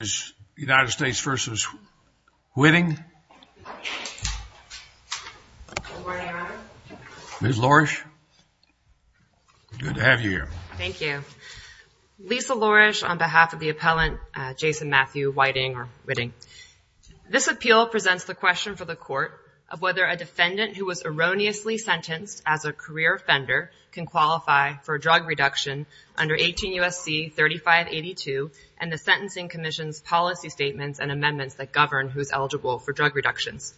is United States v. Whitting. Ms. Lourish, good to have you here. Thank you. Lisa Lourish on behalf of the appellant, Jason Matthew Whiting or Whitting. This appeal presents the question for the court of whether a defendant who was erroneously sentenced as a career offender can qualify for a drug reduction under 18 Commission's policy statements and amendments that govern who is eligible for drug reductions.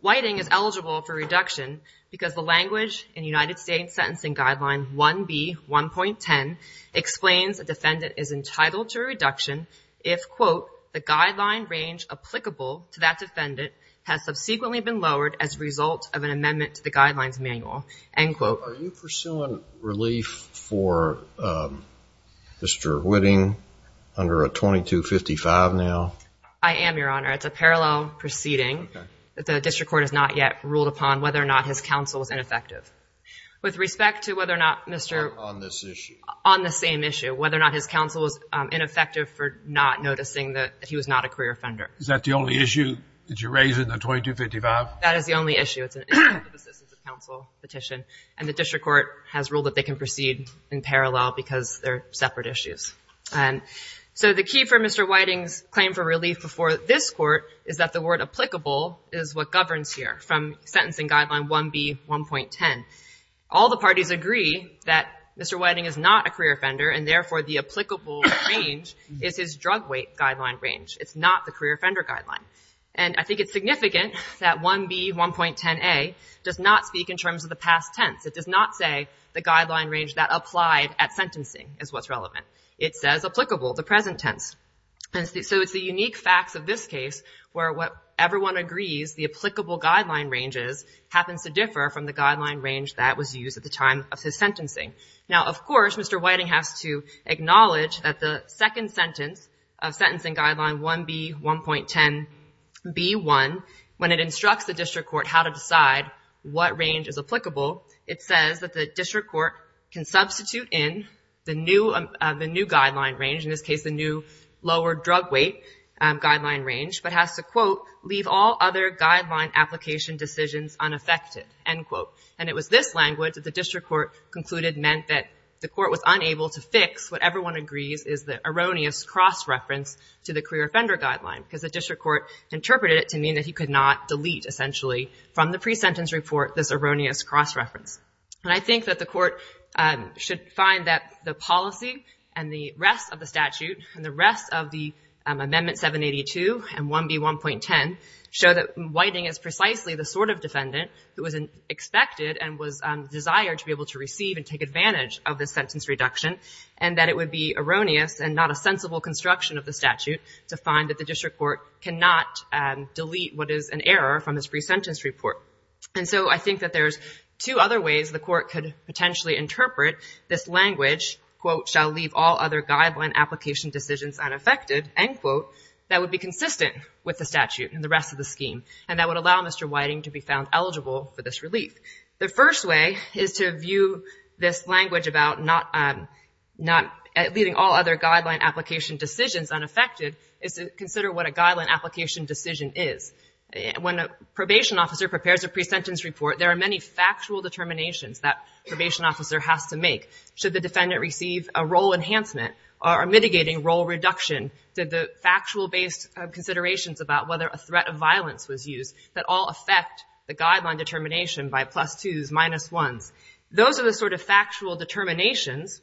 Whiting is eligible for reduction because the language in United States Sentencing Guideline 1B.1.10 explains a defendant is entitled to a reduction if quote, the guideline range applicable to that defendant has subsequently been lowered as a result of an amendment to the guidelines manual, end quote. So are you pursuing relief for Mr. Whitting under a 2255 now? I am, Your Honor. It's a parallel proceeding that the district court has not yet ruled upon whether or not his counsel was ineffective. With respect to whether or not Mr. On this issue. On the same issue, whether or not his counsel was ineffective for not noticing that he was not a career offender. Is that the only issue that you raise in the 2255? That is the only issue. It's a counsel petition and the district court has ruled that they can proceed in parallel because they're separate issues. And so the key for Mr. Whiting's claim for relief before this court is that the word applicable is what governs here from Sentencing Guideline 1B.1.10. All the parties agree that Mr. Whiting is not a career offender and therefore the applicable range is his drug weight guideline range. It's not the career offender guideline. And I think it's significant that 1B.1.10a does not speak in terms of the past tense. It does not say the guideline range that applied at sentencing is what's relevant. It says applicable, the present tense. And so it's the unique facts of this case where what everyone agrees the applicable guideline ranges happens to differ from the guideline range that was used at the time of his sentencing. Now, of course, Mr. Whiting has to acknowledge that the second sentence of Sentencing Guideline 1B.1.10a when it instructs the district court how to decide what range is applicable, it says that the district court can substitute in the new guideline range, in this case, the new lower drug weight guideline range, but has to, quote, leave all other guideline application decisions unaffected, end quote. And it was this language that the district court concluded meant that the court was unable to fix what everyone agrees is the erroneous cross-reference to the career interpreted it to mean that he could not delete essentially from the pre-sentence report this erroneous cross-reference. And I think that the court should find that the policy and the rest of the statute and the rest of the Amendment 782 and 1B.1.10 show that Whiting is precisely the sort of defendant who was expected and was desired to be able to receive and take advantage of this sentence reduction, and that it would be erroneous and not a delete what is an error from this pre-sentence report. And so I think that there's two other ways the court could potentially interpret this language, quote, shall leave all other guideline application decisions unaffected, end quote, that would be consistent with the statute and the rest of the scheme, and that would allow Mr. Whiting to be found eligible for this relief. The first way is to view this language about not leaving all other guideline application decisions unaffected is to consider what a guideline application decision is. When a probation officer prepares a pre-sentence report, there are many factual determinations that probation officer has to make. Should the defendant receive a role enhancement or mitigating role reduction? Did the factual based considerations about whether a threat of violence was used that all affect the guideline determination by plus twos, minus ones? Those are the sort of factual determinations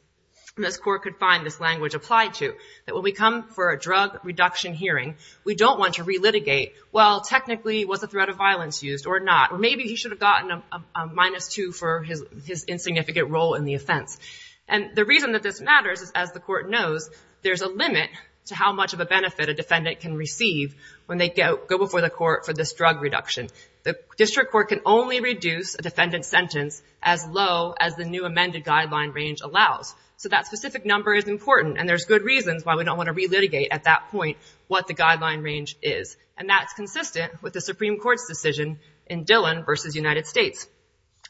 this court could find this language applied to, that when we come for a drug reduction hearing, we don't want to relitigate, well, technically was a threat of violence used or not, or maybe he should have gotten a minus two for his insignificant role in the offense. And the reason that this matters is as the court knows, there's a limit to how much of a benefit a defendant can receive when they go before the court for this drug reduction. The district court can only reduce a defendant's sentence as low as the new amended guideline range allows. So that specific number is important. And there's good reasons why we don't want to relitigate at that point what the guideline range is. And that's consistent with the Supreme Court's decision in Dillon versus United States.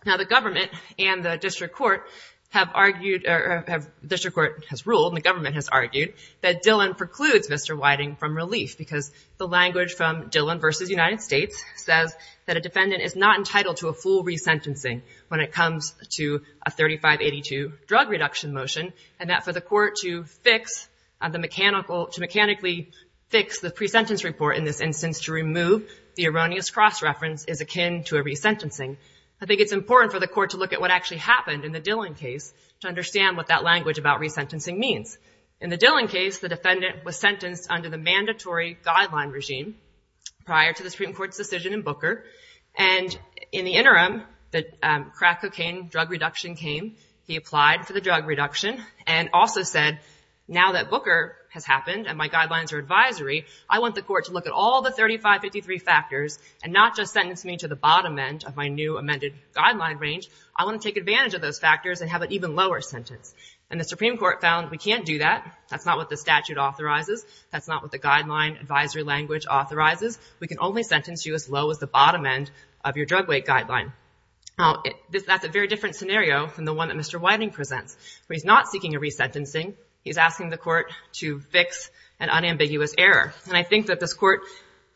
Now the government and the district court have argued, or the district court has ruled and the government has argued that Dillon precludes Mr. Whiting from relief because the language from Dillon versus United States says that a defendant is not entitled to a full resentencing when it comes to a 3582 drug reduction motion. And that for the court to fix the mechanical, to mechanically fix the pre-sentence report in this instance to remove the erroneous cross-reference is akin to a resentencing. I think it's important for the court to look at what actually happened in the Dillon case to understand what that language about resentencing means. In the Dillon case, the defendant was sentenced under the mandatory guideline regime prior to the Supreme Court's decision in Booker. And in the interim, the crack cocaine drug reduction came. He applied for the drug reduction. And also said, now that Booker has happened and my guidelines are advisory, I want the court to look at all the 3553 factors and not just sentence me to the bottom end of my new amended guideline range. I want to take advantage of those factors and have an even lower sentence. And the Supreme Court found we can't do that. That's not what the statute authorizes. That's not what the guideline advisory language authorizes. We can only sentence you as low as the bottom end of your drug weight guideline. Now that's a very different scenario from the one that Mr. King is resentencing. He's asking the court to fix an unambiguous error. And I think that this court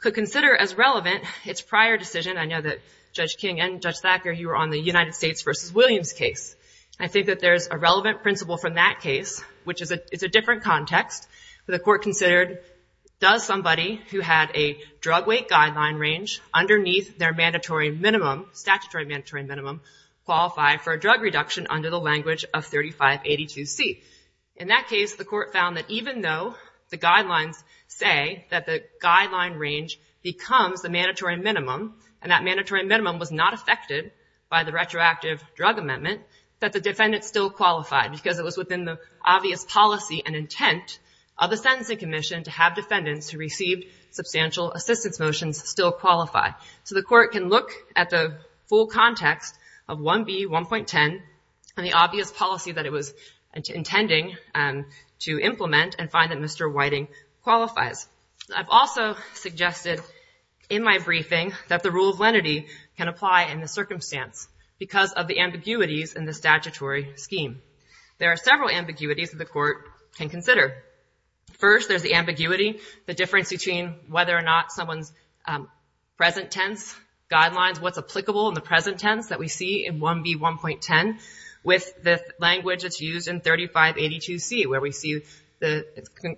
could consider as relevant its prior decision. I know that Judge King and Judge Thacker, you were on the United States versus Williams case. I think that there's a relevant principle from that case, which is a different context. The court considered, does somebody who had a drug weight guideline range underneath their mandatory minimum, statutory mandatory minimum, qualify for a In that case, the court found that even though the guidelines say that the guideline range becomes the mandatory minimum, and that mandatory minimum was not affected by the retroactive drug amendment, that the defendant still qualified because it was within the obvious policy and intent of the Sentencing Commission to have defendants who received substantial assistance motions still qualify. So the court can look at the full context of 1B.1.10 and the obvious policy that it was intending to implement and find that Mr. Whiting qualifies. I've also suggested in my briefing that the rule of lenity can apply in the circumstance because of the ambiguities in the statutory scheme. There are several ambiguities that the court can consider. First, there's the ambiguity, the difference between whether or not someone's present tense guidelines, what's applicable in the present tense that we see in 1B.1.10 with the language that's used in 3582C, where we see the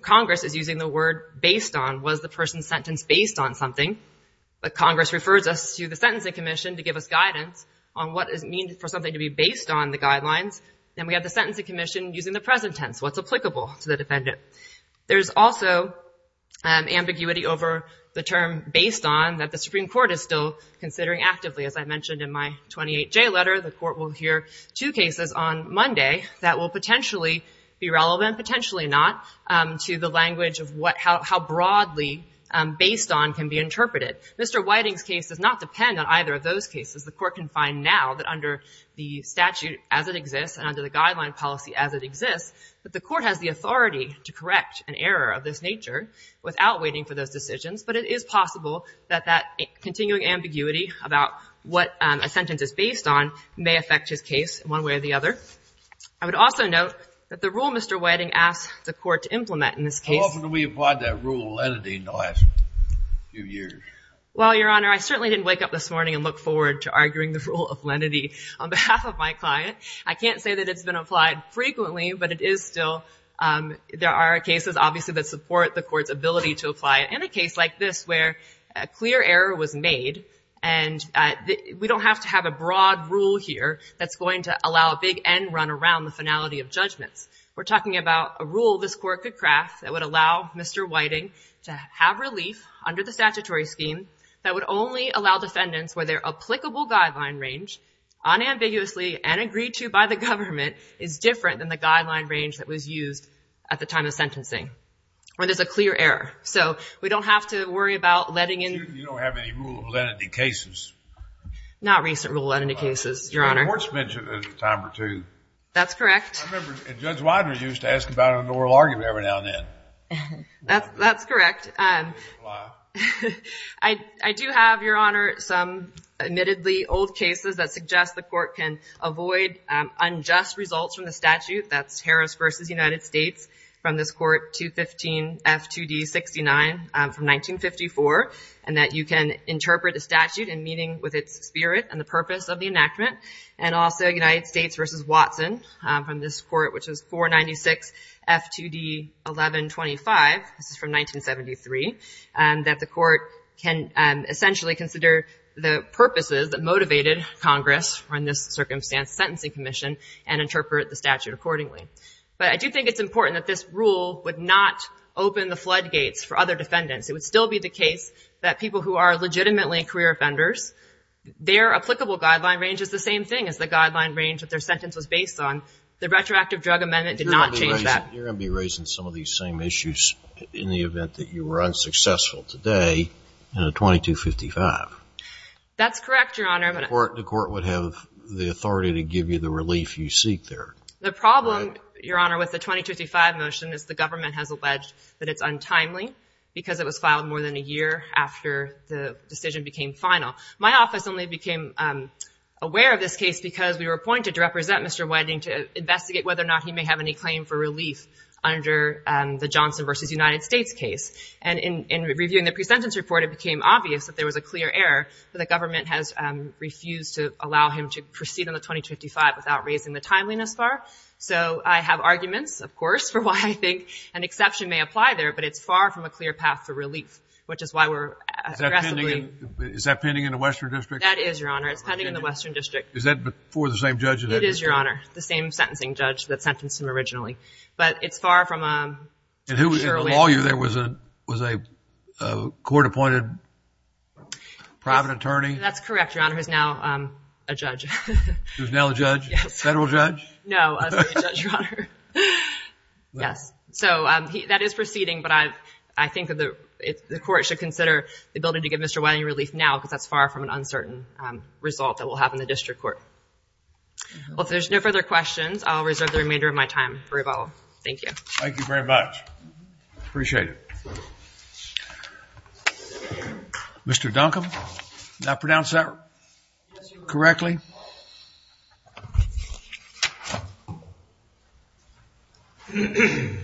Congress is using the word based on was the person sentenced based on something, but Congress refers us to the Sentencing Commission to give us guidance on what does it mean for something to be based on the guidelines. Then we have the Sentencing Commission using the present tense, what's applicable to the defendant. There's also ambiguity over the term based on that the Supreme Court is still considering actively. As I mentioned in my 28J letter, the court will hear two cases on Monday that will potentially be relevant, potentially not, to the language of how broadly based on can be interpreted. Mr. Whiting's case does not depend on either of those cases. The court can find now that under the statute as it exists and under the guideline policy as it exists, that the court has the authority to correct an error of this nature without waiting for those decisions, but it is possible that continuing ambiguity about what a sentence is based on may affect his case one way or the other. I would also note that the rule Mr. Whiting asked the court to implement in this case- How often do we apply that rule of lenity in the last few years? Well, Your Honor, I certainly didn't wake up this morning and look forward to arguing the rule of lenity on behalf of my client. I can't say that it's been applied frequently, but it is still, there are cases obviously that support the court's ability to apply it. In a case like this where a clear error was made and we don't have to have a broad rule here that's going to allow a big end run around the finality of judgments, we're talking about a rule this court could craft that would allow Mr. Whiting to have relief under the statutory scheme that would only allow defendants where their applicable guideline range unambiguously and agreed to by the government is different than the guideline range that was used at the time of sentencing, where there's a clear error. So we don't have to worry about letting in- You don't have any rule of lenity cases? Not recent rule of lenity cases, Your Honor. The court's mentioned it a time or two. That's correct. I remember Judge Widener used to ask about it in an oral argument every now and then. That's correct. I do have, Your Honor, some admittedly old cases that suggest the court can avoid unjust results from the statute. That's Harris v. United States from this court, 215 F.2d.69 from 1954, and that you can interpret a statute in meeting with its spirit and the purpose of the enactment, and also United States v. Watson from this court, which is 496 F.2d.11.25, this is from 1973, that the court can essentially consider the purposes that motivated Congress in this case to do so, and to do so accordingly. But I do think it's important that this rule would not open the floodgates for other defendants. It would still be the case that people who are legitimately career offenders, their applicable guideline range is the same thing as the guideline range that their sentence was based on. The retroactive drug amendment did not change that. You're going to be raising some of these same issues in the event that you were unsuccessful today in a 2255. That's correct, Your Honor. The court would have the authority to give you the relief you seek there. The problem, Your Honor, with the 2255 motion is the government has alleged that it's untimely because it was filed more than a year after the decision became final. My office only became aware of this case because we were appointed to represent Mr. Wedding to investigate whether or not he may have any claim for relief under the Johnson v. United States case. And in reviewing the presentence report, it became obvious that there was a clear error that the government has refused to allow him to proceed on the 2255 without raising the timeliness far. So I have arguments, of course, for why I think an exception may apply there, but it's far from a clear path for relief, which is why we're aggressively... Is that pending in the Western District? That is, Your Honor. It's pending in the Western District. Is that before the same judge? It is, Your Honor. The same sentencing judge that sentenced him originally. But it's far from a... And who was in the law year? There was a court-appointed private attorney? That's correct, Your Honor, who's now a judge. Who's now a judge? Federal judge? No, a state judge, Your Honor. Yes. So that is proceeding, but I think the court should consider the ability to give Mr. Wiley relief now because that's far from an uncertain result that we'll have in the district court. Well, if there's no further questions, I'll reserve the remainder of my time for rebuttal. Thank you. Thank you very much. Appreciate it. Mr. Duncombe, did I pronounce that correctly? Yes, Your Honor.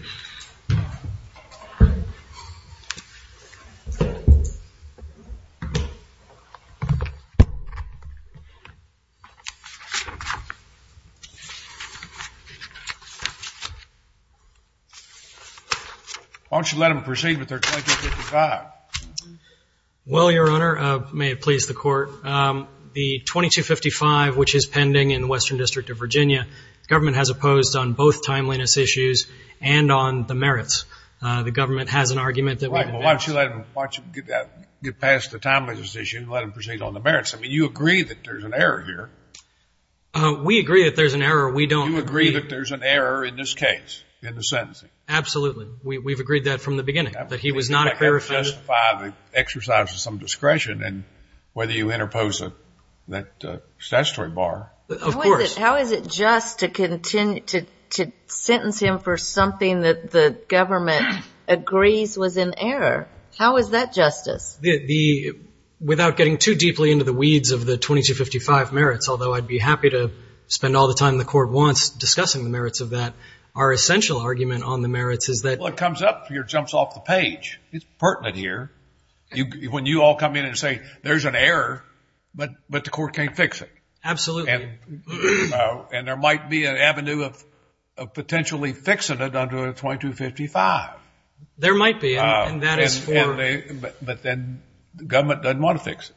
Why don't you let them proceed with their 2255? Well, Your Honor, may it please the court. The 2255, which is pending in the Western District of Virginia, the government has opposed on both timeliness issues and on the merits. The government has an argument that... Right. Well, why don't you let him... Why don't you get past the timeliness issue and let him proceed on the merits? I mean, you agree that there's an error here. We agree that there's an error. We don't agree... You agree that there's an error in this case, in the sentencing? Absolutely. We've agreed that from the beginning, that he was not...... to justify the exercise of some discretion and whether you interpose that statutory bar. Of course. How is it just to continue to sentence him for something that the government agrees was an error? How is that justice? Without getting too deeply into the weeds of the 2255 merits, although I'd be happy to spend all the time the court wants discussing the merits of that. Our essential argument on the merits is that... Well, it comes up, or it jumps off the page. It's pertinent here. When you all come in and say, there's an error, but the court can't fix it. Absolutely. And there might be an avenue of potentially fixing it under the 2255. There might be, and that is for... But then the government doesn't want to fix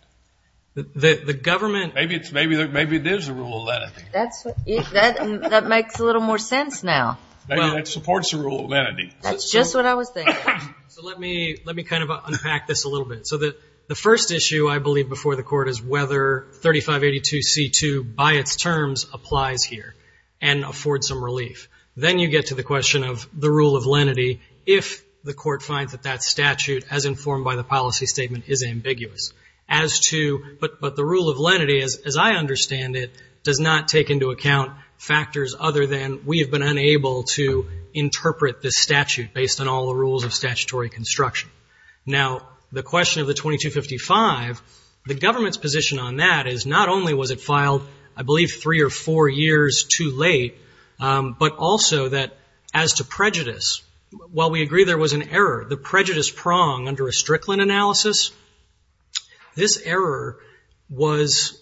it. The government... Maybe it is the rule of entity. That makes a little more sense now. Maybe that supports the rule of entity. That's just what I was thinking. So let me kind of unpack this a little bit. So the first issue, I believe, before the court is whether 3582C2, by its terms, applies here and affords some relief. Then you get to the question of the rule of lenity, if the court finds that that statute, as informed by the policy statement, is ambiguous, as to... But the rule of lenity, as I understand it, does not take into account factors other than we have been unable to interpret this statute based on all the statutory construction. Now, the question of the 2255, the government's position on that is not only was it filed, I believe, three or four years too late, but also that as to prejudice, while we agree there was an error, the prejudice prong under a Strickland analysis, this error was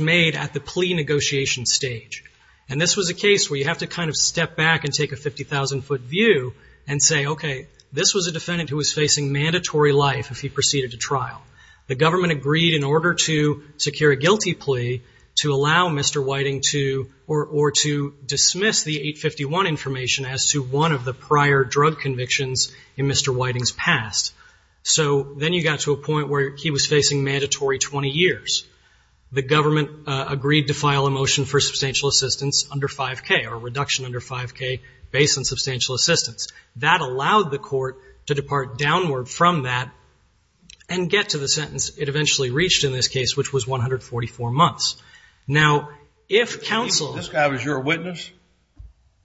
made at the plea negotiation stage. And this was a case where you have to kind of step back and take a 50,000-foot view and say, okay, this was a defendant who was facing mandatory life if he proceeded to trial. The government agreed in order to secure a guilty plea to allow Mr. Whiting to, or to dismiss the 851 information as to one of the prior drug convictions in Mr. Whiting's past. So then you got to a point where he was facing mandatory 20 years. The government agreed to file a motion for substantial assistance under 5K, or That allowed the court to depart downward from that and get to the sentence it eventually reached in this case, which was 144 months. Now, if counsel- This guy was your witness?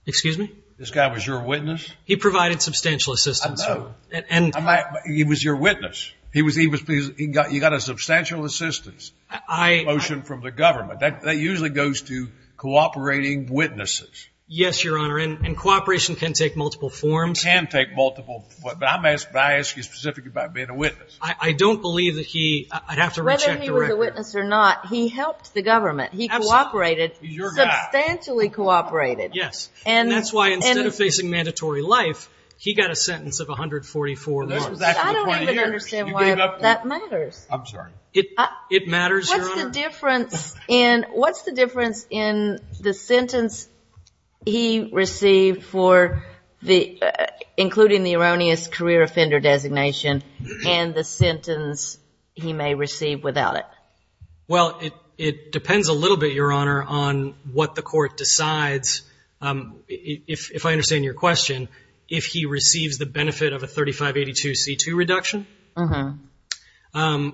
Excuse me? This guy was your witness? He provided substantial assistance. I know. And- I'm not, he was your witness. He was, he was, he got, you got a substantial assistance motion from the government. That, that usually goes to cooperating witnesses. Yes, Your Honor. And cooperation can take multiple forms. It can take multiple, but I'm asking you specifically about being a witness. I don't believe that he, I'd have to recheck the record. Whether he was a witness or not, he helped the government. He cooperated, substantially cooperated. Yes. And that's why instead of facing mandatory life, he got a sentence of 144 months. I don't even understand why that matters. I'm sorry. It, it matters, Your Honor. What's the difference in, what's the difference in the sentence he received for the, including the erroneous career offender designation and the sentence he may receive without it? Well, it, it depends a little bit, Your Honor, on what the court decides. If I understand your question, if he receives the benefit of a 3582 C2 reduction,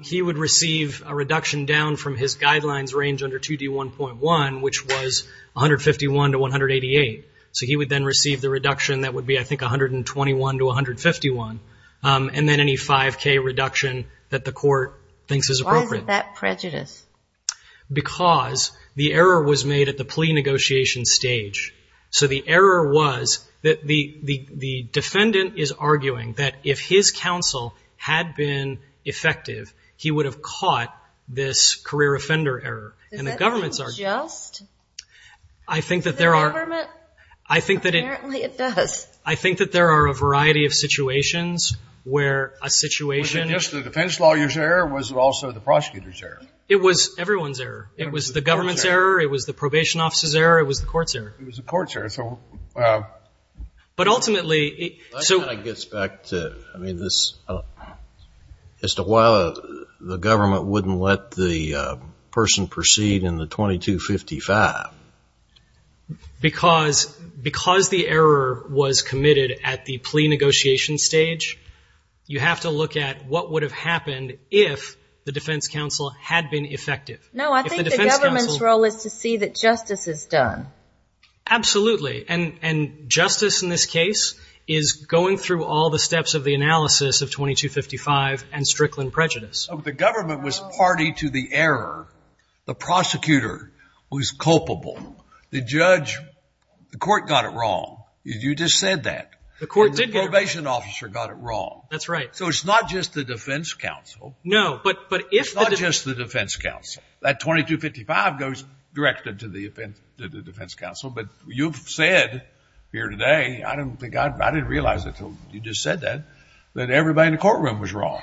he would receive a reduction down from his guidelines range under 2D1.1, which was 151 to 188. So he would then receive the reduction. That would be, I think, 121 to 151. And then any 5K reduction that the court thinks is appropriate. Why is it that prejudice? Because the error was made at the plea negotiation stage. So the error was that the, the, the defendant is arguing that if his counsel had been effective, he would have caught this career offender error. And the government's argument. Is that just? I think that there are, I think that it, I think that there are a variety of situations where a situation. Was it just the defense lawyer's error or was it also the prosecutor's error? It was everyone's error. It was the government's error. It was the probation officer's error. It was the court's error. It was the court's error. So, uh. But ultimately, so. That kind of gets back to, I mean, this, uh, as to why the government wouldn't let the person proceed in the 2255. Because, because the error was committed at the plea negotiation stage, you have to look at what would have happened if the defense counsel had been effective. No, I think the government's role is to see that justice is done. Absolutely. And, and justice in this case is going through all the steps of the analysis of 2255 and Strickland prejudice. So the government was party to the error. The prosecutor was culpable. The judge, the court got it wrong. You just said that. The court did get it wrong. The probation officer got it wrong. That's right. So it's not just the defense counsel. No, but, but if. It's not just the defense counsel. That 2255 goes directed to the offense, to the defense counsel. But you've said here today, I don't think I, I didn't realize it until you just said that, that everybody in the courtroom was wrong.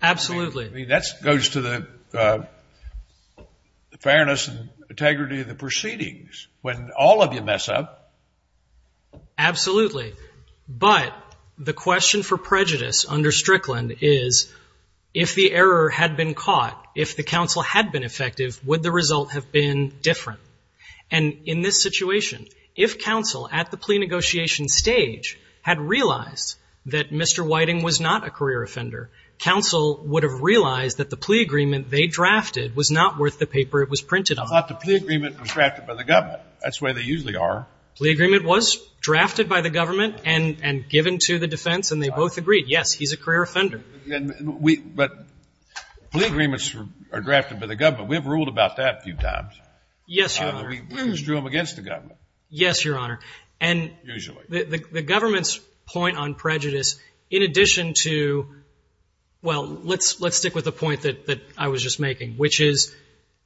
Absolutely. I mean, that's, goes to the, uh, the fairness and integrity of the proceedings when all of you mess up. Absolutely. But the question for prejudice under Strickland is if the error had been caught, if the counsel had been effective, would the result have been different? And in this situation, if counsel at the plea negotiation stage had realized that Mr. Whiting was not a career offender, counsel would have realized that the plea agreement they drafted was not worth the paper it was printed on. I thought the plea agreement was drafted by the government. That's the way they usually are. Plea agreement was drafted by the government and, and given to the defense. And they both agreed, yes, he's a career offender. And we, but plea agreements are drafted by the government. We've ruled about that a few times. Yes, Your Honor. We just drew them against the government. Yes, Your Honor. And the government's point on prejudice, in addition to, well, let's, let's stick with the point that, that I was just making, which is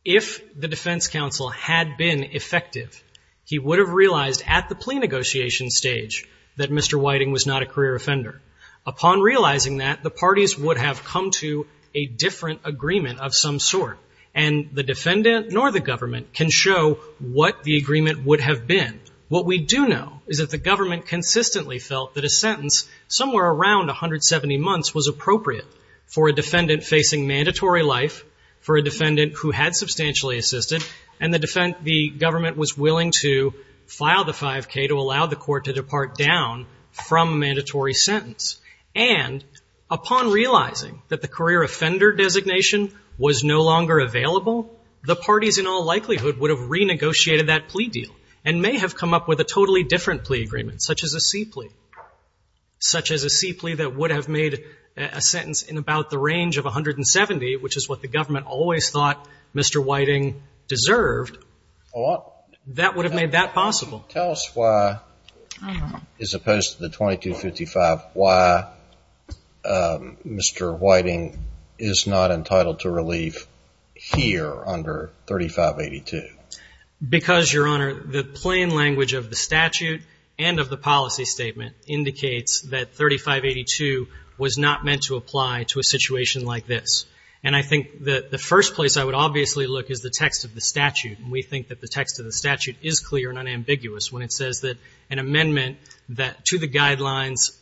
if the defense counsel had been effective, he would have realized at the plea negotiation stage that Mr. Whiting was not a career offender. Upon realizing that, the parties would have come to a different agreement of some sort and the defendant nor the government can show what the agreement would have been. What we do know is that the government consistently felt that a sentence somewhere around 170 months was appropriate for a defendant facing mandatory life, for a defendant who had substantially assisted, and the defendant, the government was from a mandatory sentence. And upon realizing that the career offender designation was no longer available, the parties in all likelihood would have renegotiated that plea deal and may have come up with a totally different plea agreement, such as a C plea, such as a C plea that would have made a sentence in about the range of 170, which is what the government always thought Mr. Whiting deserved, that would have made that possible. Tell us why, as opposed to the 2255, why Mr. Whiting is not entitled to relief here under 3582. Because, Your Honor, the plain language of the statute and of the policy statement indicates that 3582 was not meant to apply to a situation like this. And I think that the first place I would obviously look is the text of the statute. And we think that the text of the statute is clear and unambiguous when it says that an amendment to the guidelines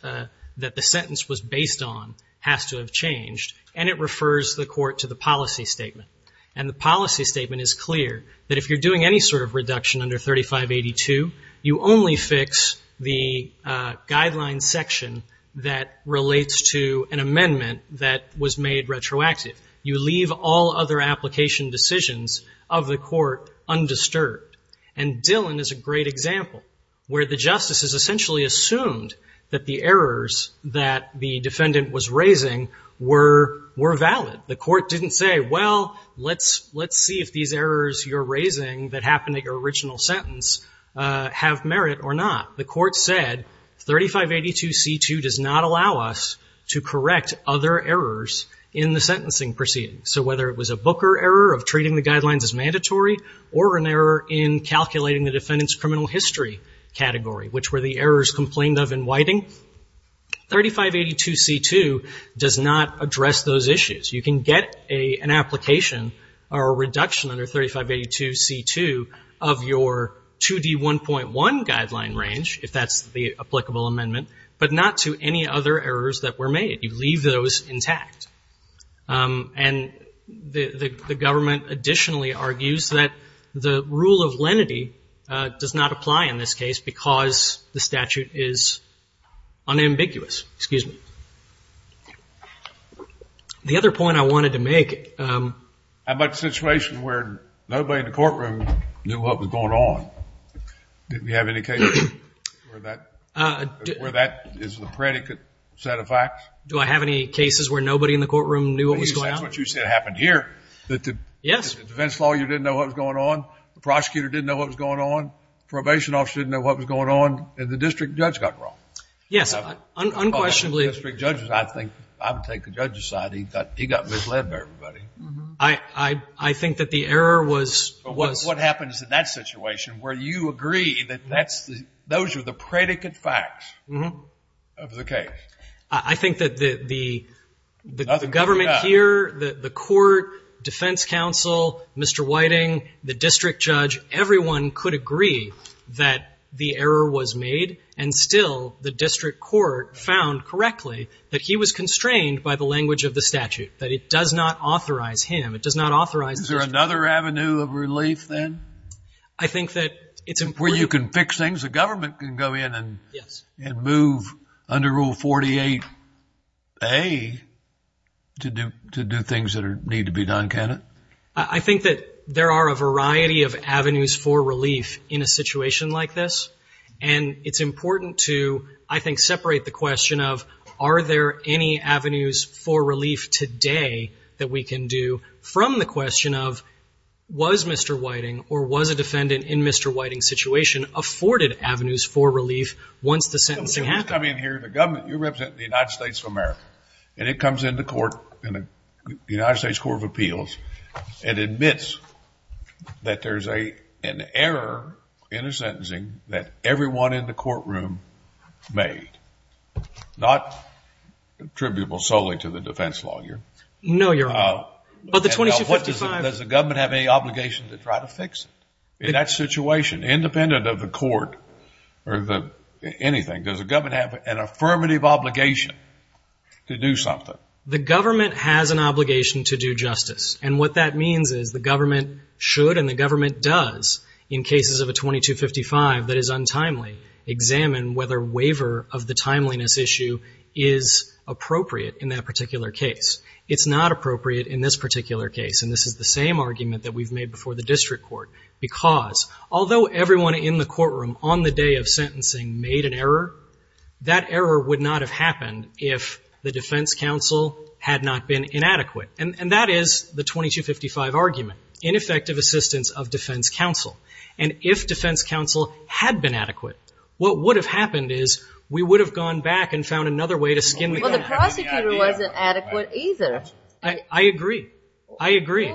that the sentence was based on has to have changed, and it refers the court to the policy statement. And the policy statement is clear that if you're doing any sort of reduction under 3582, you only fix the guidelines section that relates to an amendment that was made retroactive. You leave all other application decisions of the court undisturbed. And Dillon is a great example where the justices essentially assumed that the errors that the defendant was raising were valid. The court didn't say, well, let's see if these errors you're raising that happened at your original sentence have merit or not. The court said 3582C2 does not allow us to correct other errors in the sentencing proceeding. So whether it was a Booker error of treating the guidelines as mandatory or an error in calculating the defendant's criminal history category, which were the errors complained of in Whiting, 3582C2 does not address those issues. You can get an application or a reduction under 3582C2 of your 2D1.1 guideline range, if that's the applicable amendment, but not to any other errors that were made. You leave those intact. And the government additionally argues that the rule of lenity does not apply in this case because the statute is unambiguous. Excuse me. The other point I wanted to make. How about the situation where nobody in the courtroom knew what was going on? Did we have any cases where that is the predicate set of facts? Do I have any cases where nobody in the courtroom knew what was going on? That's what you said happened here. That the defense lawyer didn't know what was going on, the prosecutor didn't know what was going on, probation officer didn't know what was going on, and the district judge got wrong. Yes, unquestionably. The district judge, I think, I'm going to take the judge's side. He got misled by everybody. I think that the error was... But what happens in that situation where you agree that those are the predicate facts of the case? I think that the government here, the court, defense counsel, Mr. Whiting, the district judge, everyone could agree that the error was made. And still, the district court found correctly that he was constrained by the language of the statute, that it does not authorize him. It does not authorize... Is there another avenue of relief then? I think that it's important... Where you can fix things. A government can go in and move under Rule 48A to do things that need to be done, can it? I think that there are a variety of avenues for relief in a situation like this. And it's important to, I think, separate the question of, are there any avenues for relief today that we can do from the question of, was Mr. Whiting or was a different avenue for relief once the sentencing happened? You come in here, the government, you represent the United States of America, and it comes into court, the United States Court of Appeals, and admits that there's an error in the sentencing that everyone in the courtroom made, not attributable solely to the defense lawyer. No, Your Honor. But the 2255... Does the government have any obligation to try to fix it in that situation, independent of the court or anything? Does the government have an affirmative obligation to do something? The government has an obligation to do justice, and what that means is the government should and the government does, in cases of a 2255 that is untimely, examine whether waiver of the timeliness issue is appropriate in that particular case. It's not appropriate in this particular case, and this is the same argument that we've made before the district court, because although everyone in the courtroom on the day of sentencing made an error, that error would not have happened if the defense counsel had not been inadequate. And that is the 2255 argument, ineffective assistance of defense counsel. And if defense counsel had been adequate, what would have happened is we would have gone back and found another way to skin the... Well, the prosecutor wasn't adequate either. I agree. I agree.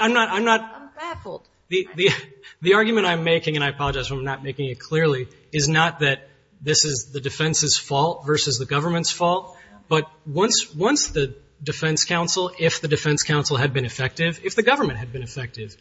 I'm not... I'm baffled. The argument I'm making, and I apologize if I'm not making it clearly, is not that this is the defense's fault versus the government's fault, but once the defense counsel, if the defense counsel had been effective, if the government had been effective,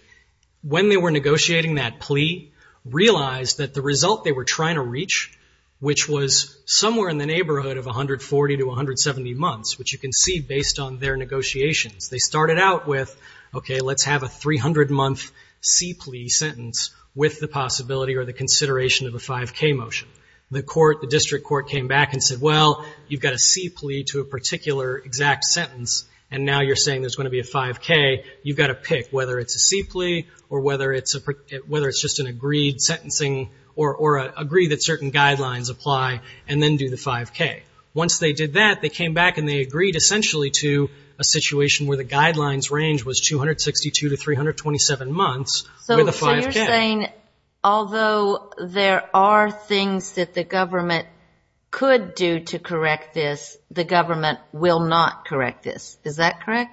when they were negotiating that plea, realized that the result they were trying to reach, which was somewhere in the neighborhood of 140 to 170 months, which you can see based on their negotiations, they started out with, okay, let's have a 300-month C plea sentence with the possibility or the consideration of a 5K motion. The court, the district court, came back and said, well, you've got a C plea to a particular exact sentence, and now you're saying there's going to be a 5K. You've got to pick whether it's a C plea or whether it's just an agreed sentencing, or agree that certain guidelines apply, and then do the 5K. Once they did that, they came back and they agreed essentially to a situation where the guidelines range was 262 to 327 months with a 5K. So you're saying, although there are things that the government could do to correct this, the government will not correct this. Is that correct?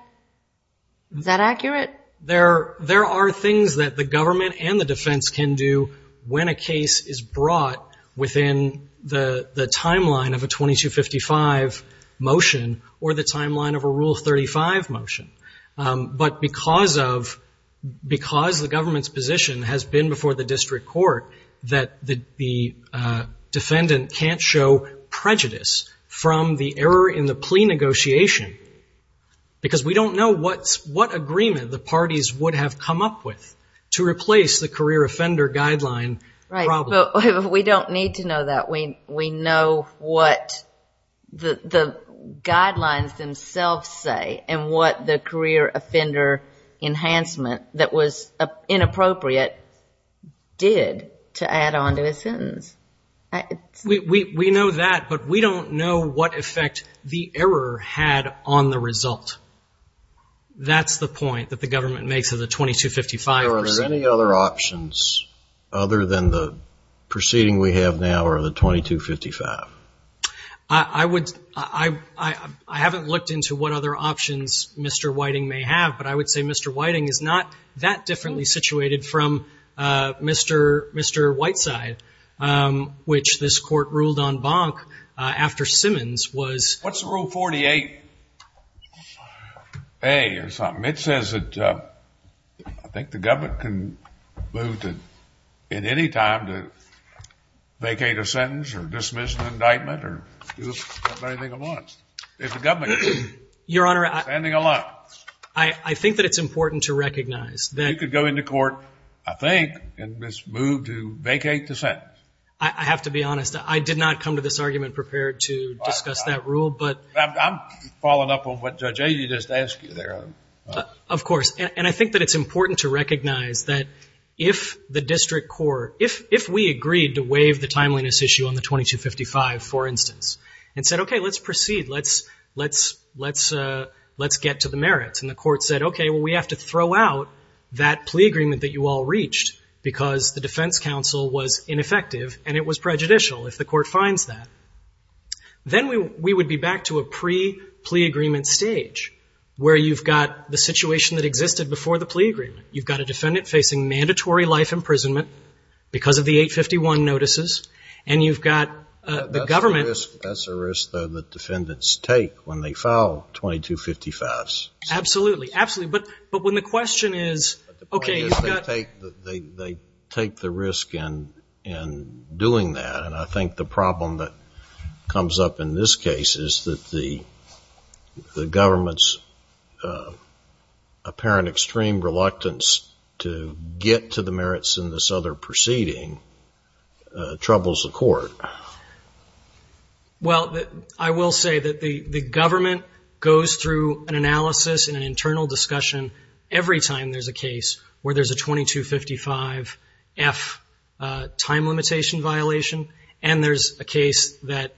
Is that accurate? There are things that the government and the defense can do when a case is brought within the timeline of a 2255 motion or the timeline of a Rule 35 motion. But because the government's position has been before the district court that the defendant can't show prejudice from the error in the plea negotiation, because we don't know what agreement the parties would have come up with to replace the career offender guideline problem. We don't need to know that. We know what the guidelines themselves say and what the career offender enhancement that was inappropriate did to add on to a sentence. We know that, but we don't know what effect the error had on the result. That's the point that the government makes of the 2255. Are there any other options other than the proceeding we have now or the 2255? I haven't looked into what other options Mr. Whiting may have, but I would say Mr. Whiting is not that differently situated from Mr. Whiteside, which this court ruled on Bonk after Simmons was... What's Rule 48A or something? It says that I think the government can move at any time to vacate a sentence or dismiss an indictment or do anything it wants if the government is standing alone. Your Honor, I think that it's important to recognize that... You could go into court, I think, and move to vacate the sentence. I have to be honest. I did not come to this argument prepared to discuss that rule, but... I'm following up on what Judge Agee just asked you there. Of course. I think that it's important to recognize that if the district court... If we agreed to waive the timeliness issue on the 2255, for instance, and said, okay, let's proceed, let's get to the merits, and the court said, okay, well, we have to throw out that plea agreement that you all reached because the defense counsel was ineffective and it was prejudicial if the court finds that. Then we would be back to a pre-plea agreement stage where you've got the situation that existed before the plea agreement. You've got a defendant facing mandatory life imprisonment because of the 851 notices, and you've got the government... That's a risk, though, that defendants take when they file 2255s. Absolutely. Absolutely. But when the question is, okay, you've got... They take the risk in doing that, and I think the problem that comes up in this case is that the government's apparent extreme reluctance to get to the merits in this other proceeding troubles the court. Well, I will say that the government goes through an analysis and an internal discussion every time there's a case where there's a 2255F time limitation violation and there's a case that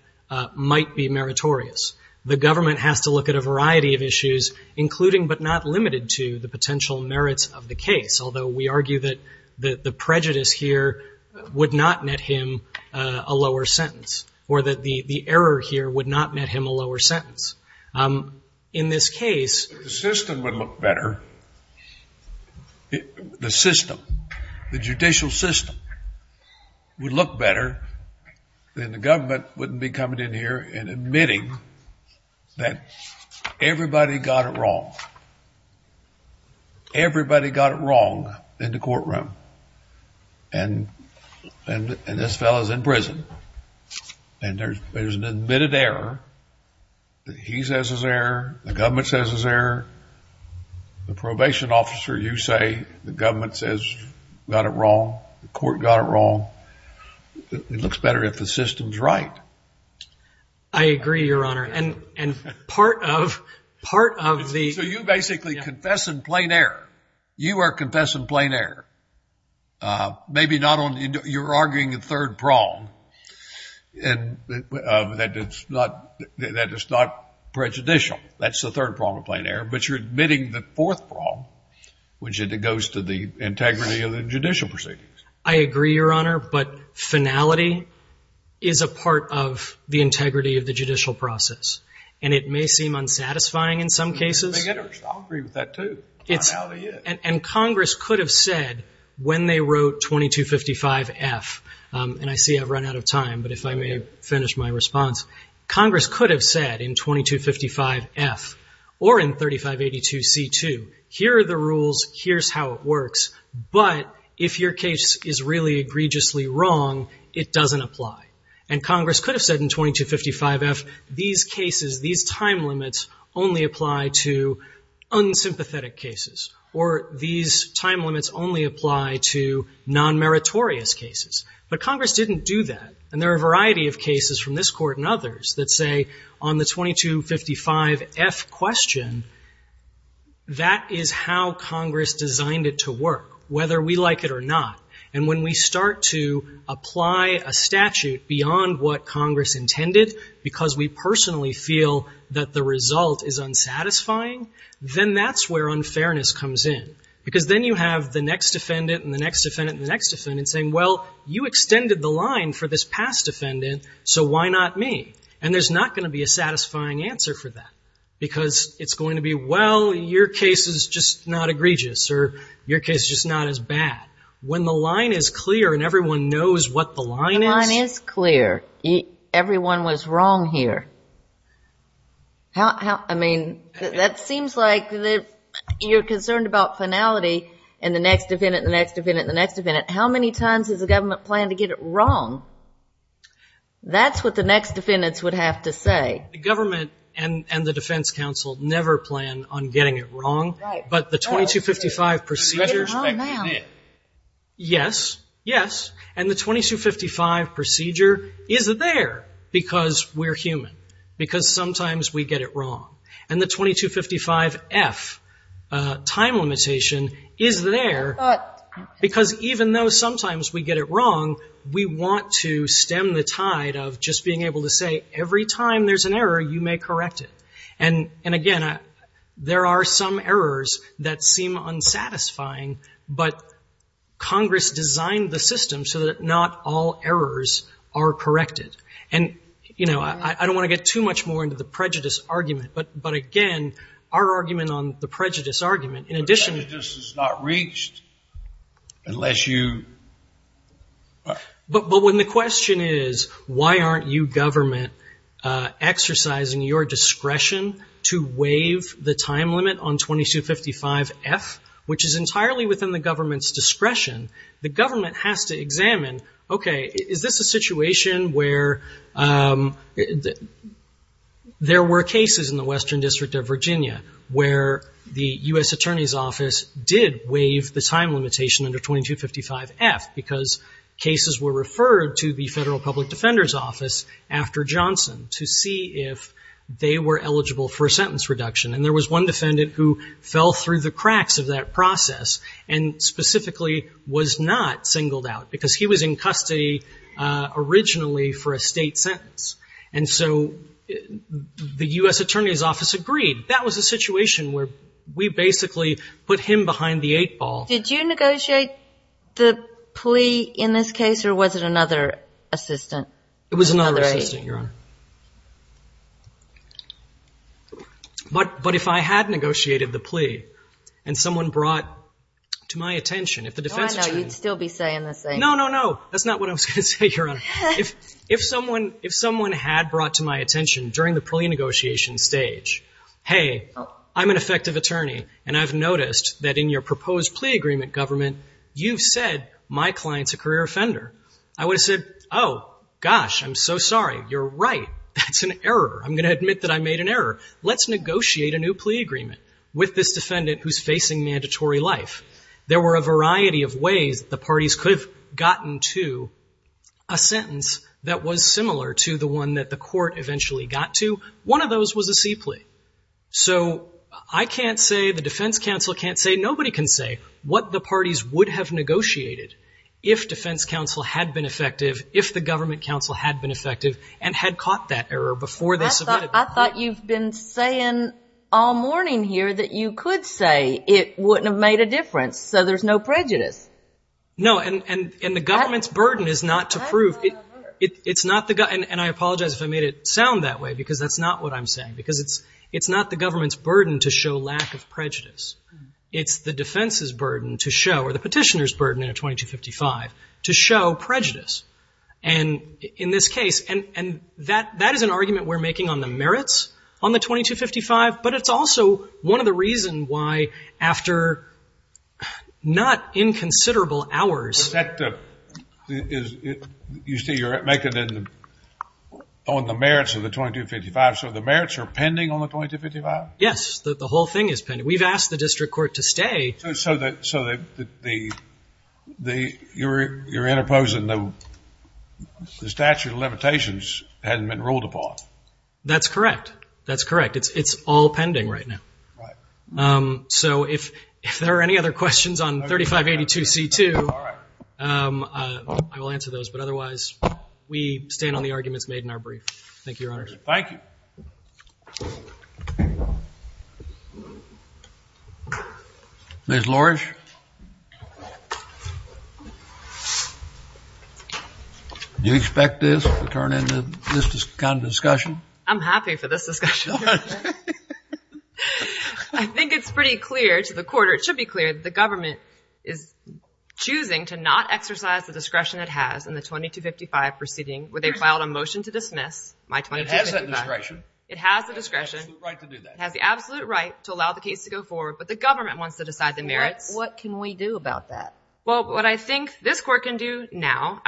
might be meritorious. The government has to look at a variety of issues, including but not limited to the potential merits of the case, although we argue that the prejudice here would not net him a lower sentence or that the error here would not net him a lower sentence. In this case... If the system would look better, the system, the judicial system would look better, then the government wouldn't be coming in here and admitting that everybody got it wrong. Everybody got it wrong in the courtroom, and this fellow's in prison, and there's an admitted error. He says his error. The government says his error. The probation officer, you say. The government says got it wrong. The court got it wrong. It looks better if the system's right. I agree, Your Honor, and part of the... You basically confess in plain error. You are confessing in plain error. Maybe not on... You're arguing a third prong, that it's not prejudicial. That's the third prong of plain error, but you're admitting the fourth prong, which goes to the integrity of the judicial proceedings. I agree, Your Honor, but finality is a part of the integrity of the judicial process, and it may seem unsatisfying in some cases. I agree with that, too. Finality is. Congress could have said when they wrote 2255F, and I see I've run out of time, but if I may finish my response, Congress could have said in 2255F or in 3582C2, here are the rules. Here's how it works, but if your case is really egregiously wrong, it doesn't apply. Congress could have said in 2255F, these cases, these time limits only apply to unsympathetic cases, or these time limits only apply to non-meritorious cases, but Congress didn't do that, and there are a variety of cases from this Court and others that say on the 2255F question, that is how Congress designed it to work, whether we like it or not. And when we start to apply a statute beyond what Congress intended, because we personally feel that the result is unsatisfying, then that's where unfairness comes in, because then you have the next defendant and the next defendant and the next defendant saying, well, you extended the line for this past defendant, so why not me? And there's not going to be a satisfying answer for that, because it's going to be, well, your case is just not egregious, or your case is just not as bad. When the line is clear and everyone knows what the I mean, that seems like you're concerned about finality, and the next defendant and the next defendant and the next defendant. How many times does the government plan to get it wrong? That's what the next defendants would have to say. The government and the defense counsel never plan on getting it wrong, but the 2255 procedure Yes, yes, and the 2255 procedure is there, because we're human, because that's what sometimes we get it wrong. And the 2255F time limitation is there, because even though sometimes we get it wrong, we want to stem the tide of just being able to say, every time there's an error, you may correct it. And again, there are some errors that seem unsatisfying, but Congress designed the system so that not all errors are corrected. And, you know, I don't want to get too much more into the prejudice argument, but again, our argument on the prejudice argument in addition Prejudice is not reached unless you But when the question is, why aren't you government exercising your discretion to waive the time limit on 2255F, which is entirely within the government's discretion, the government has to examine, okay, is this a situation where there were cases in the Western District of Virginia where the U.S. Attorney's Office did waive the time limitation under 2255F, because cases were referred to the Federal Public Defender's Office after Johnson to see if they were eligible for a sentence reduction. And there was one defendant who fell through the cracks of that process and specifically was not singled out, because he was in custody originally for a state sentence. And so the U.S. Attorney's Office agreed. That was a situation where we basically put him behind the eight ball. Did you negotiate the plea in this case, or was it another assistant? It was another assistant, Your Honor. But if I had negotiated the plea and someone brought to my attention, if the defense attorney Oh, I know. You'd still be saying the same thing. No, no, no. That's not what I was going to say, Your Honor. If someone had brought to my attention during the plea negotiation stage, hey, I'm an effective attorney, and I've noticed that in your proposed plea agreement, government, you've said my client's a career offender. I would have said, oh, gosh, I'm so sorry. You're right. That's an error. I'm going to admit that I made an error. Let's negotiate a new plea agreement with this defendant who's facing mandatory life. There were a variety of ways the parties could have gotten to a sentence that was similar to the one that the court eventually got to. One of those was a C plea. So I can't say, the defense counsel can't say, nobody can say what the parties would have negotiated if defense counsel had been effective, if the government counsel had been effective, and had caught that error before they submitted the plea. I thought you've been saying all morning here that you could say it wouldn't have made a difference, so there's no prejudice. No, and the government's burden is not to prove. And I apologize if I made it sound that way, because that's not what I'm saying, because it's not the government's burden to show lack of prejudice. It's the defense's burden to show, or the petitioner's burden in a 2255, to show prejudice. And in this case, and that is an argument we're making on the merits on the 2255, but it's also one of the reasons why, after not inconsiderable hours You see, you're making it on the merits of the 2255, so the merits are pending on the 2255? Yes, the whole thing is pending. We've asked the district court to stay. So you're interposing the statute of limitations hasn't been ruled upon. That's correct. That's correct. It's all pending right now. So if there are any other questions on 3582C2, I will answer those, but otherwise we stand on the arguments made in our brief. Thank you, Your Honor. Ms. Lorsch? Do you expect this to turn into this kind of discussion? I'm happy for this discussion. I think it's pretty clear to the court, or it should be clear, that the government is choosing to not exercise the discretion it has in the 2255 proceeding where they filed a motion to dismiss my 2255. It has that discretion. It has the discretion. It has the absolute right to do that. It has the absolute right to allow the case to go forward, but the government wants to decide the merits. What can we do about that? Well, what I think this court can do now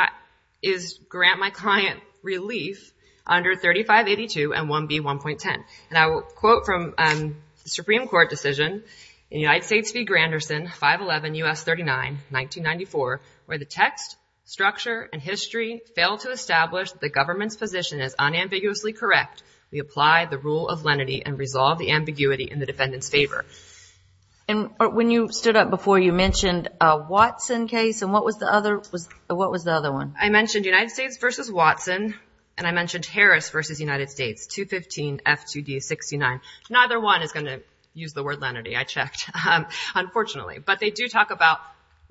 is grant my client relief under 3582 and 1B1.10. And I will quote from the Supreme Court decision in United States v. Granderson, 511 U.S. 39, 1994, where the text, structure, and history fail to establish the government's position as unambiguously correct. We apply the rule of lenity and resolve the ambiguity in the defendant's favor. And when you stood up before, you mentioned a Watson case, and what was the other one? I mentioned United States v. Watson, and I mentioned Harris v. United States, 215F2D69. Neither one is going to use the word lenity, I checked, unfortunately. But they do talk about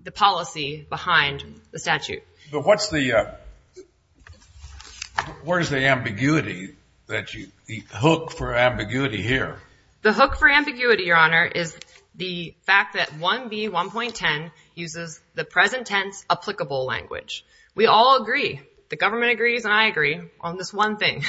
the policy behind the statute. But what's the, where's the ambiguity, the hook for ambiguity here? The hook for ambiguity, Your Honor, is the fact that 1B1.10 uses the present tense applicable language. We all agree, the government agrees and I agree on this one thing,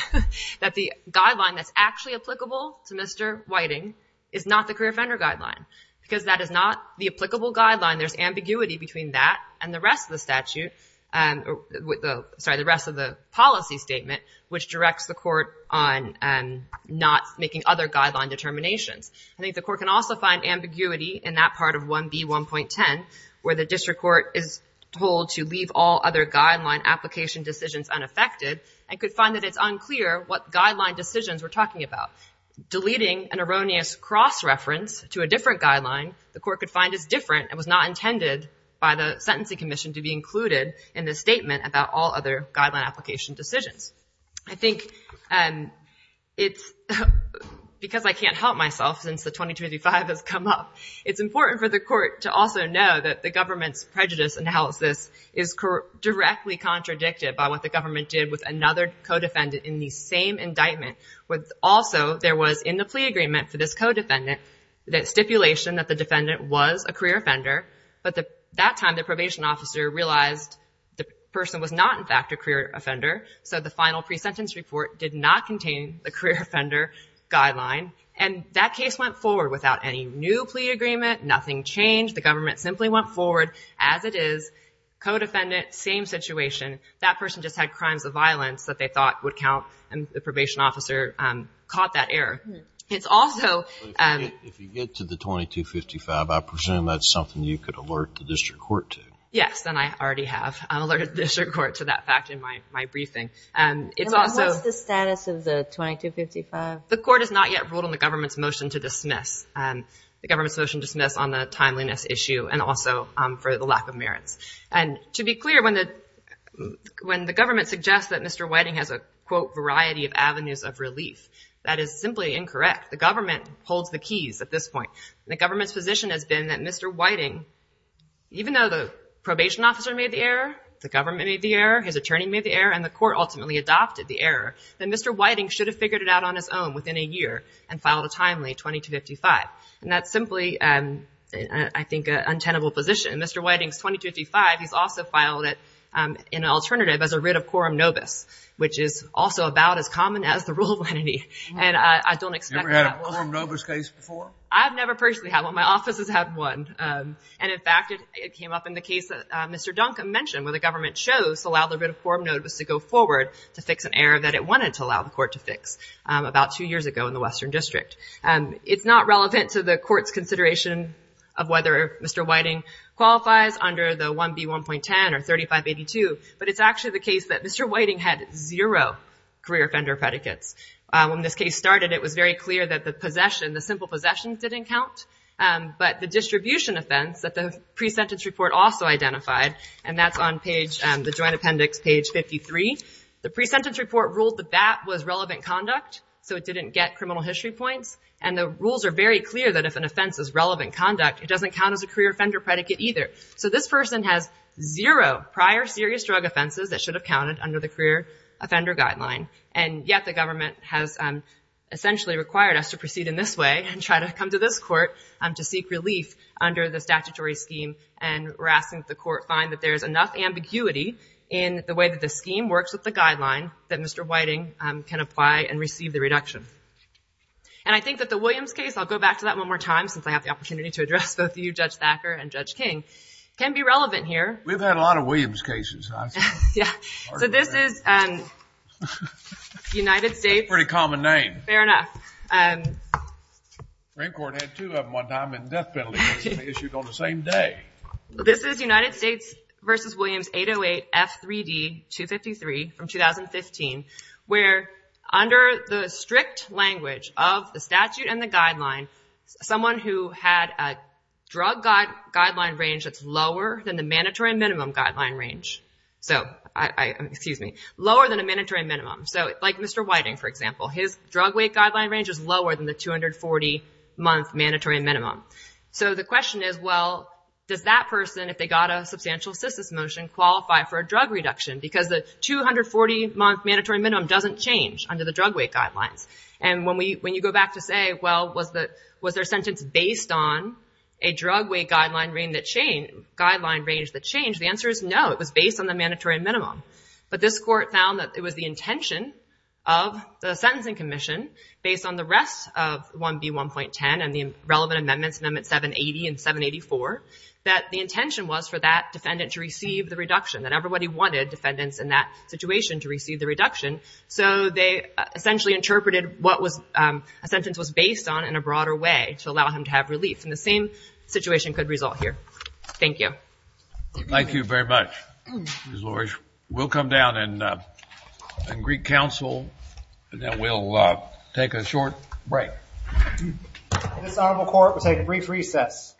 that the guideline that's actually applicable to Mr. Whiting is not the career offender guideline. Because that is not the applicable guideline, there's ambiguity between that and the rest of the statute, sorry, the rest of the policy statement, which directs the court on not making other guideline determinations. I think the court can also find ambiguity in that part of 1B1.10, where the district court is told to leave all other guideline application decisions unaffected, and could find that it's unclear what guideline decisions we're talking about. Deleting an erroneous cross-reference to a different guideline, the court could find is different and was not intended by the sentencing commission to be included in this statement about all other guideline application decisions. I think it's, because I can't help myself since the 2255 has come up, it's important for the court to also know that the government's prejudice analysis is directly contradicted by what the government did with another co-defendant in the same indictment. Also, there was in the plea agreement for this co-defendant, that stipulation that the defendant was a career offender, but that time the probation officer realized the person was not in fact a career offender, so the final pre-sentence report did not contain the career offender guideline. And that case went forward without any new plea agreement, nothing changed, the government simply went forward as it is, co-defendant, same situation, that person just had crimes of violence that they thought would count, and the probation officer caught that error. It's also... If you get to the 2255, I presume that's something you could alert the district court to. Yes, and I already have alerted the district court to that fact in my briefing. It's also... What's the status of the 2255? The court has not yet ruled on the government's motion to dismiss, the government's motion to dismiss on the timeliness issue, and also for the lack of merits. And to be clear, when the government suggests that Mr. Whiting has a, quote, variety of avenues of relief, that is simply incorrect. The government holds the keys at this point. The government's position has been that Mr. Whiting, even though the probation officer made the error, the government made the error, his attorney made the error, and the court ultimately adopted the error, that Mr. Whiting should have figured it out on his own within a year, and filed a timely 2255. And that's simply, I think, an untenable position. Mr. Whiting's 2255, he's also filed it in an alternative as a writ of quorum nobis, which is also about as common as the rule of lenity. And I don't expect... You ever had a quorum nobis case before? I've never personally had one. My office has had one. And in fact, it came up in the case that Mr. Duncan mentioned, where the government chose to allow the writ of quorum nobis to go forward to fix an error that it wanted to allow the court to fix about two years ago in the Western District. It's not relevant to the court's consideration of whether Mr. Whiting qualifies under the 1B1.10 or 3582, but it's actually the case that Mr. Whiting had zero career offender predicates. When this case started, it was very clear that the simple possession didn't count, but the distribution offense that the pre-sentence report also identified, and that's on the joint appendix page 53, the pre-sentence report ruled that that was relevant conduct, so it didn't get criminal history points. And the rules are very clear that if an offense is relevant conduct, it doesn't count as a career offender predicate either. So this person has zero prior serious drug offenses that should have counted under the career offender guideline, and yet the government has essentially required us to proceed in this way and try to come to this court to seek relief under the statutory scheme, and we're asking that the court find that there's enough ambiguity in the way that the scheme works with the guideline that Mr. Whiting can apply and receive the reduction. And I think that the Williams case, I'll go back to that one more time since I have the opportunity to address both you, Judge Thacker, and Judge King, can be relevant here. We've had a lot of Williams cases. So this is United States... That's a pretty common name. Fair enough. The Supreme Court had two of them one time in death penalty cases issued on the same day. This is United States v. Williams 808 F3D 253 from 2015, where under the strict language of the statute and the guideline, someone who had a drug guideline range that's lower than the mandatory minimum guideline range. Lower than the mandatory minimum. So like Mr. Whiting, for example, his drug weight guideline range is lower than the 240-month mandatory minimum. So the question is, well, does that person, if they got a substantial assistance motion, qualify for a drug reduction? Because the question has to say, well, was their sentence based on a drug weight guideline range that changed? The answer is no. It was based on the mandatory minimum. But this court found that it was the intention of the sentencing commission, based on the rest of 1B1.10 and the relevant amendments, amendments 780 and 784, that the intention was for that defendant to receive the reduction, that everybody wanted defendants in that sentence was based on in a broader way to allow him to have relief. And the same situation could result here. Thank you. Thank you very much, Ms. Lorsch. We'll come down and greet counsel, and then we'll take a short break. This honorable court will take a brief recess.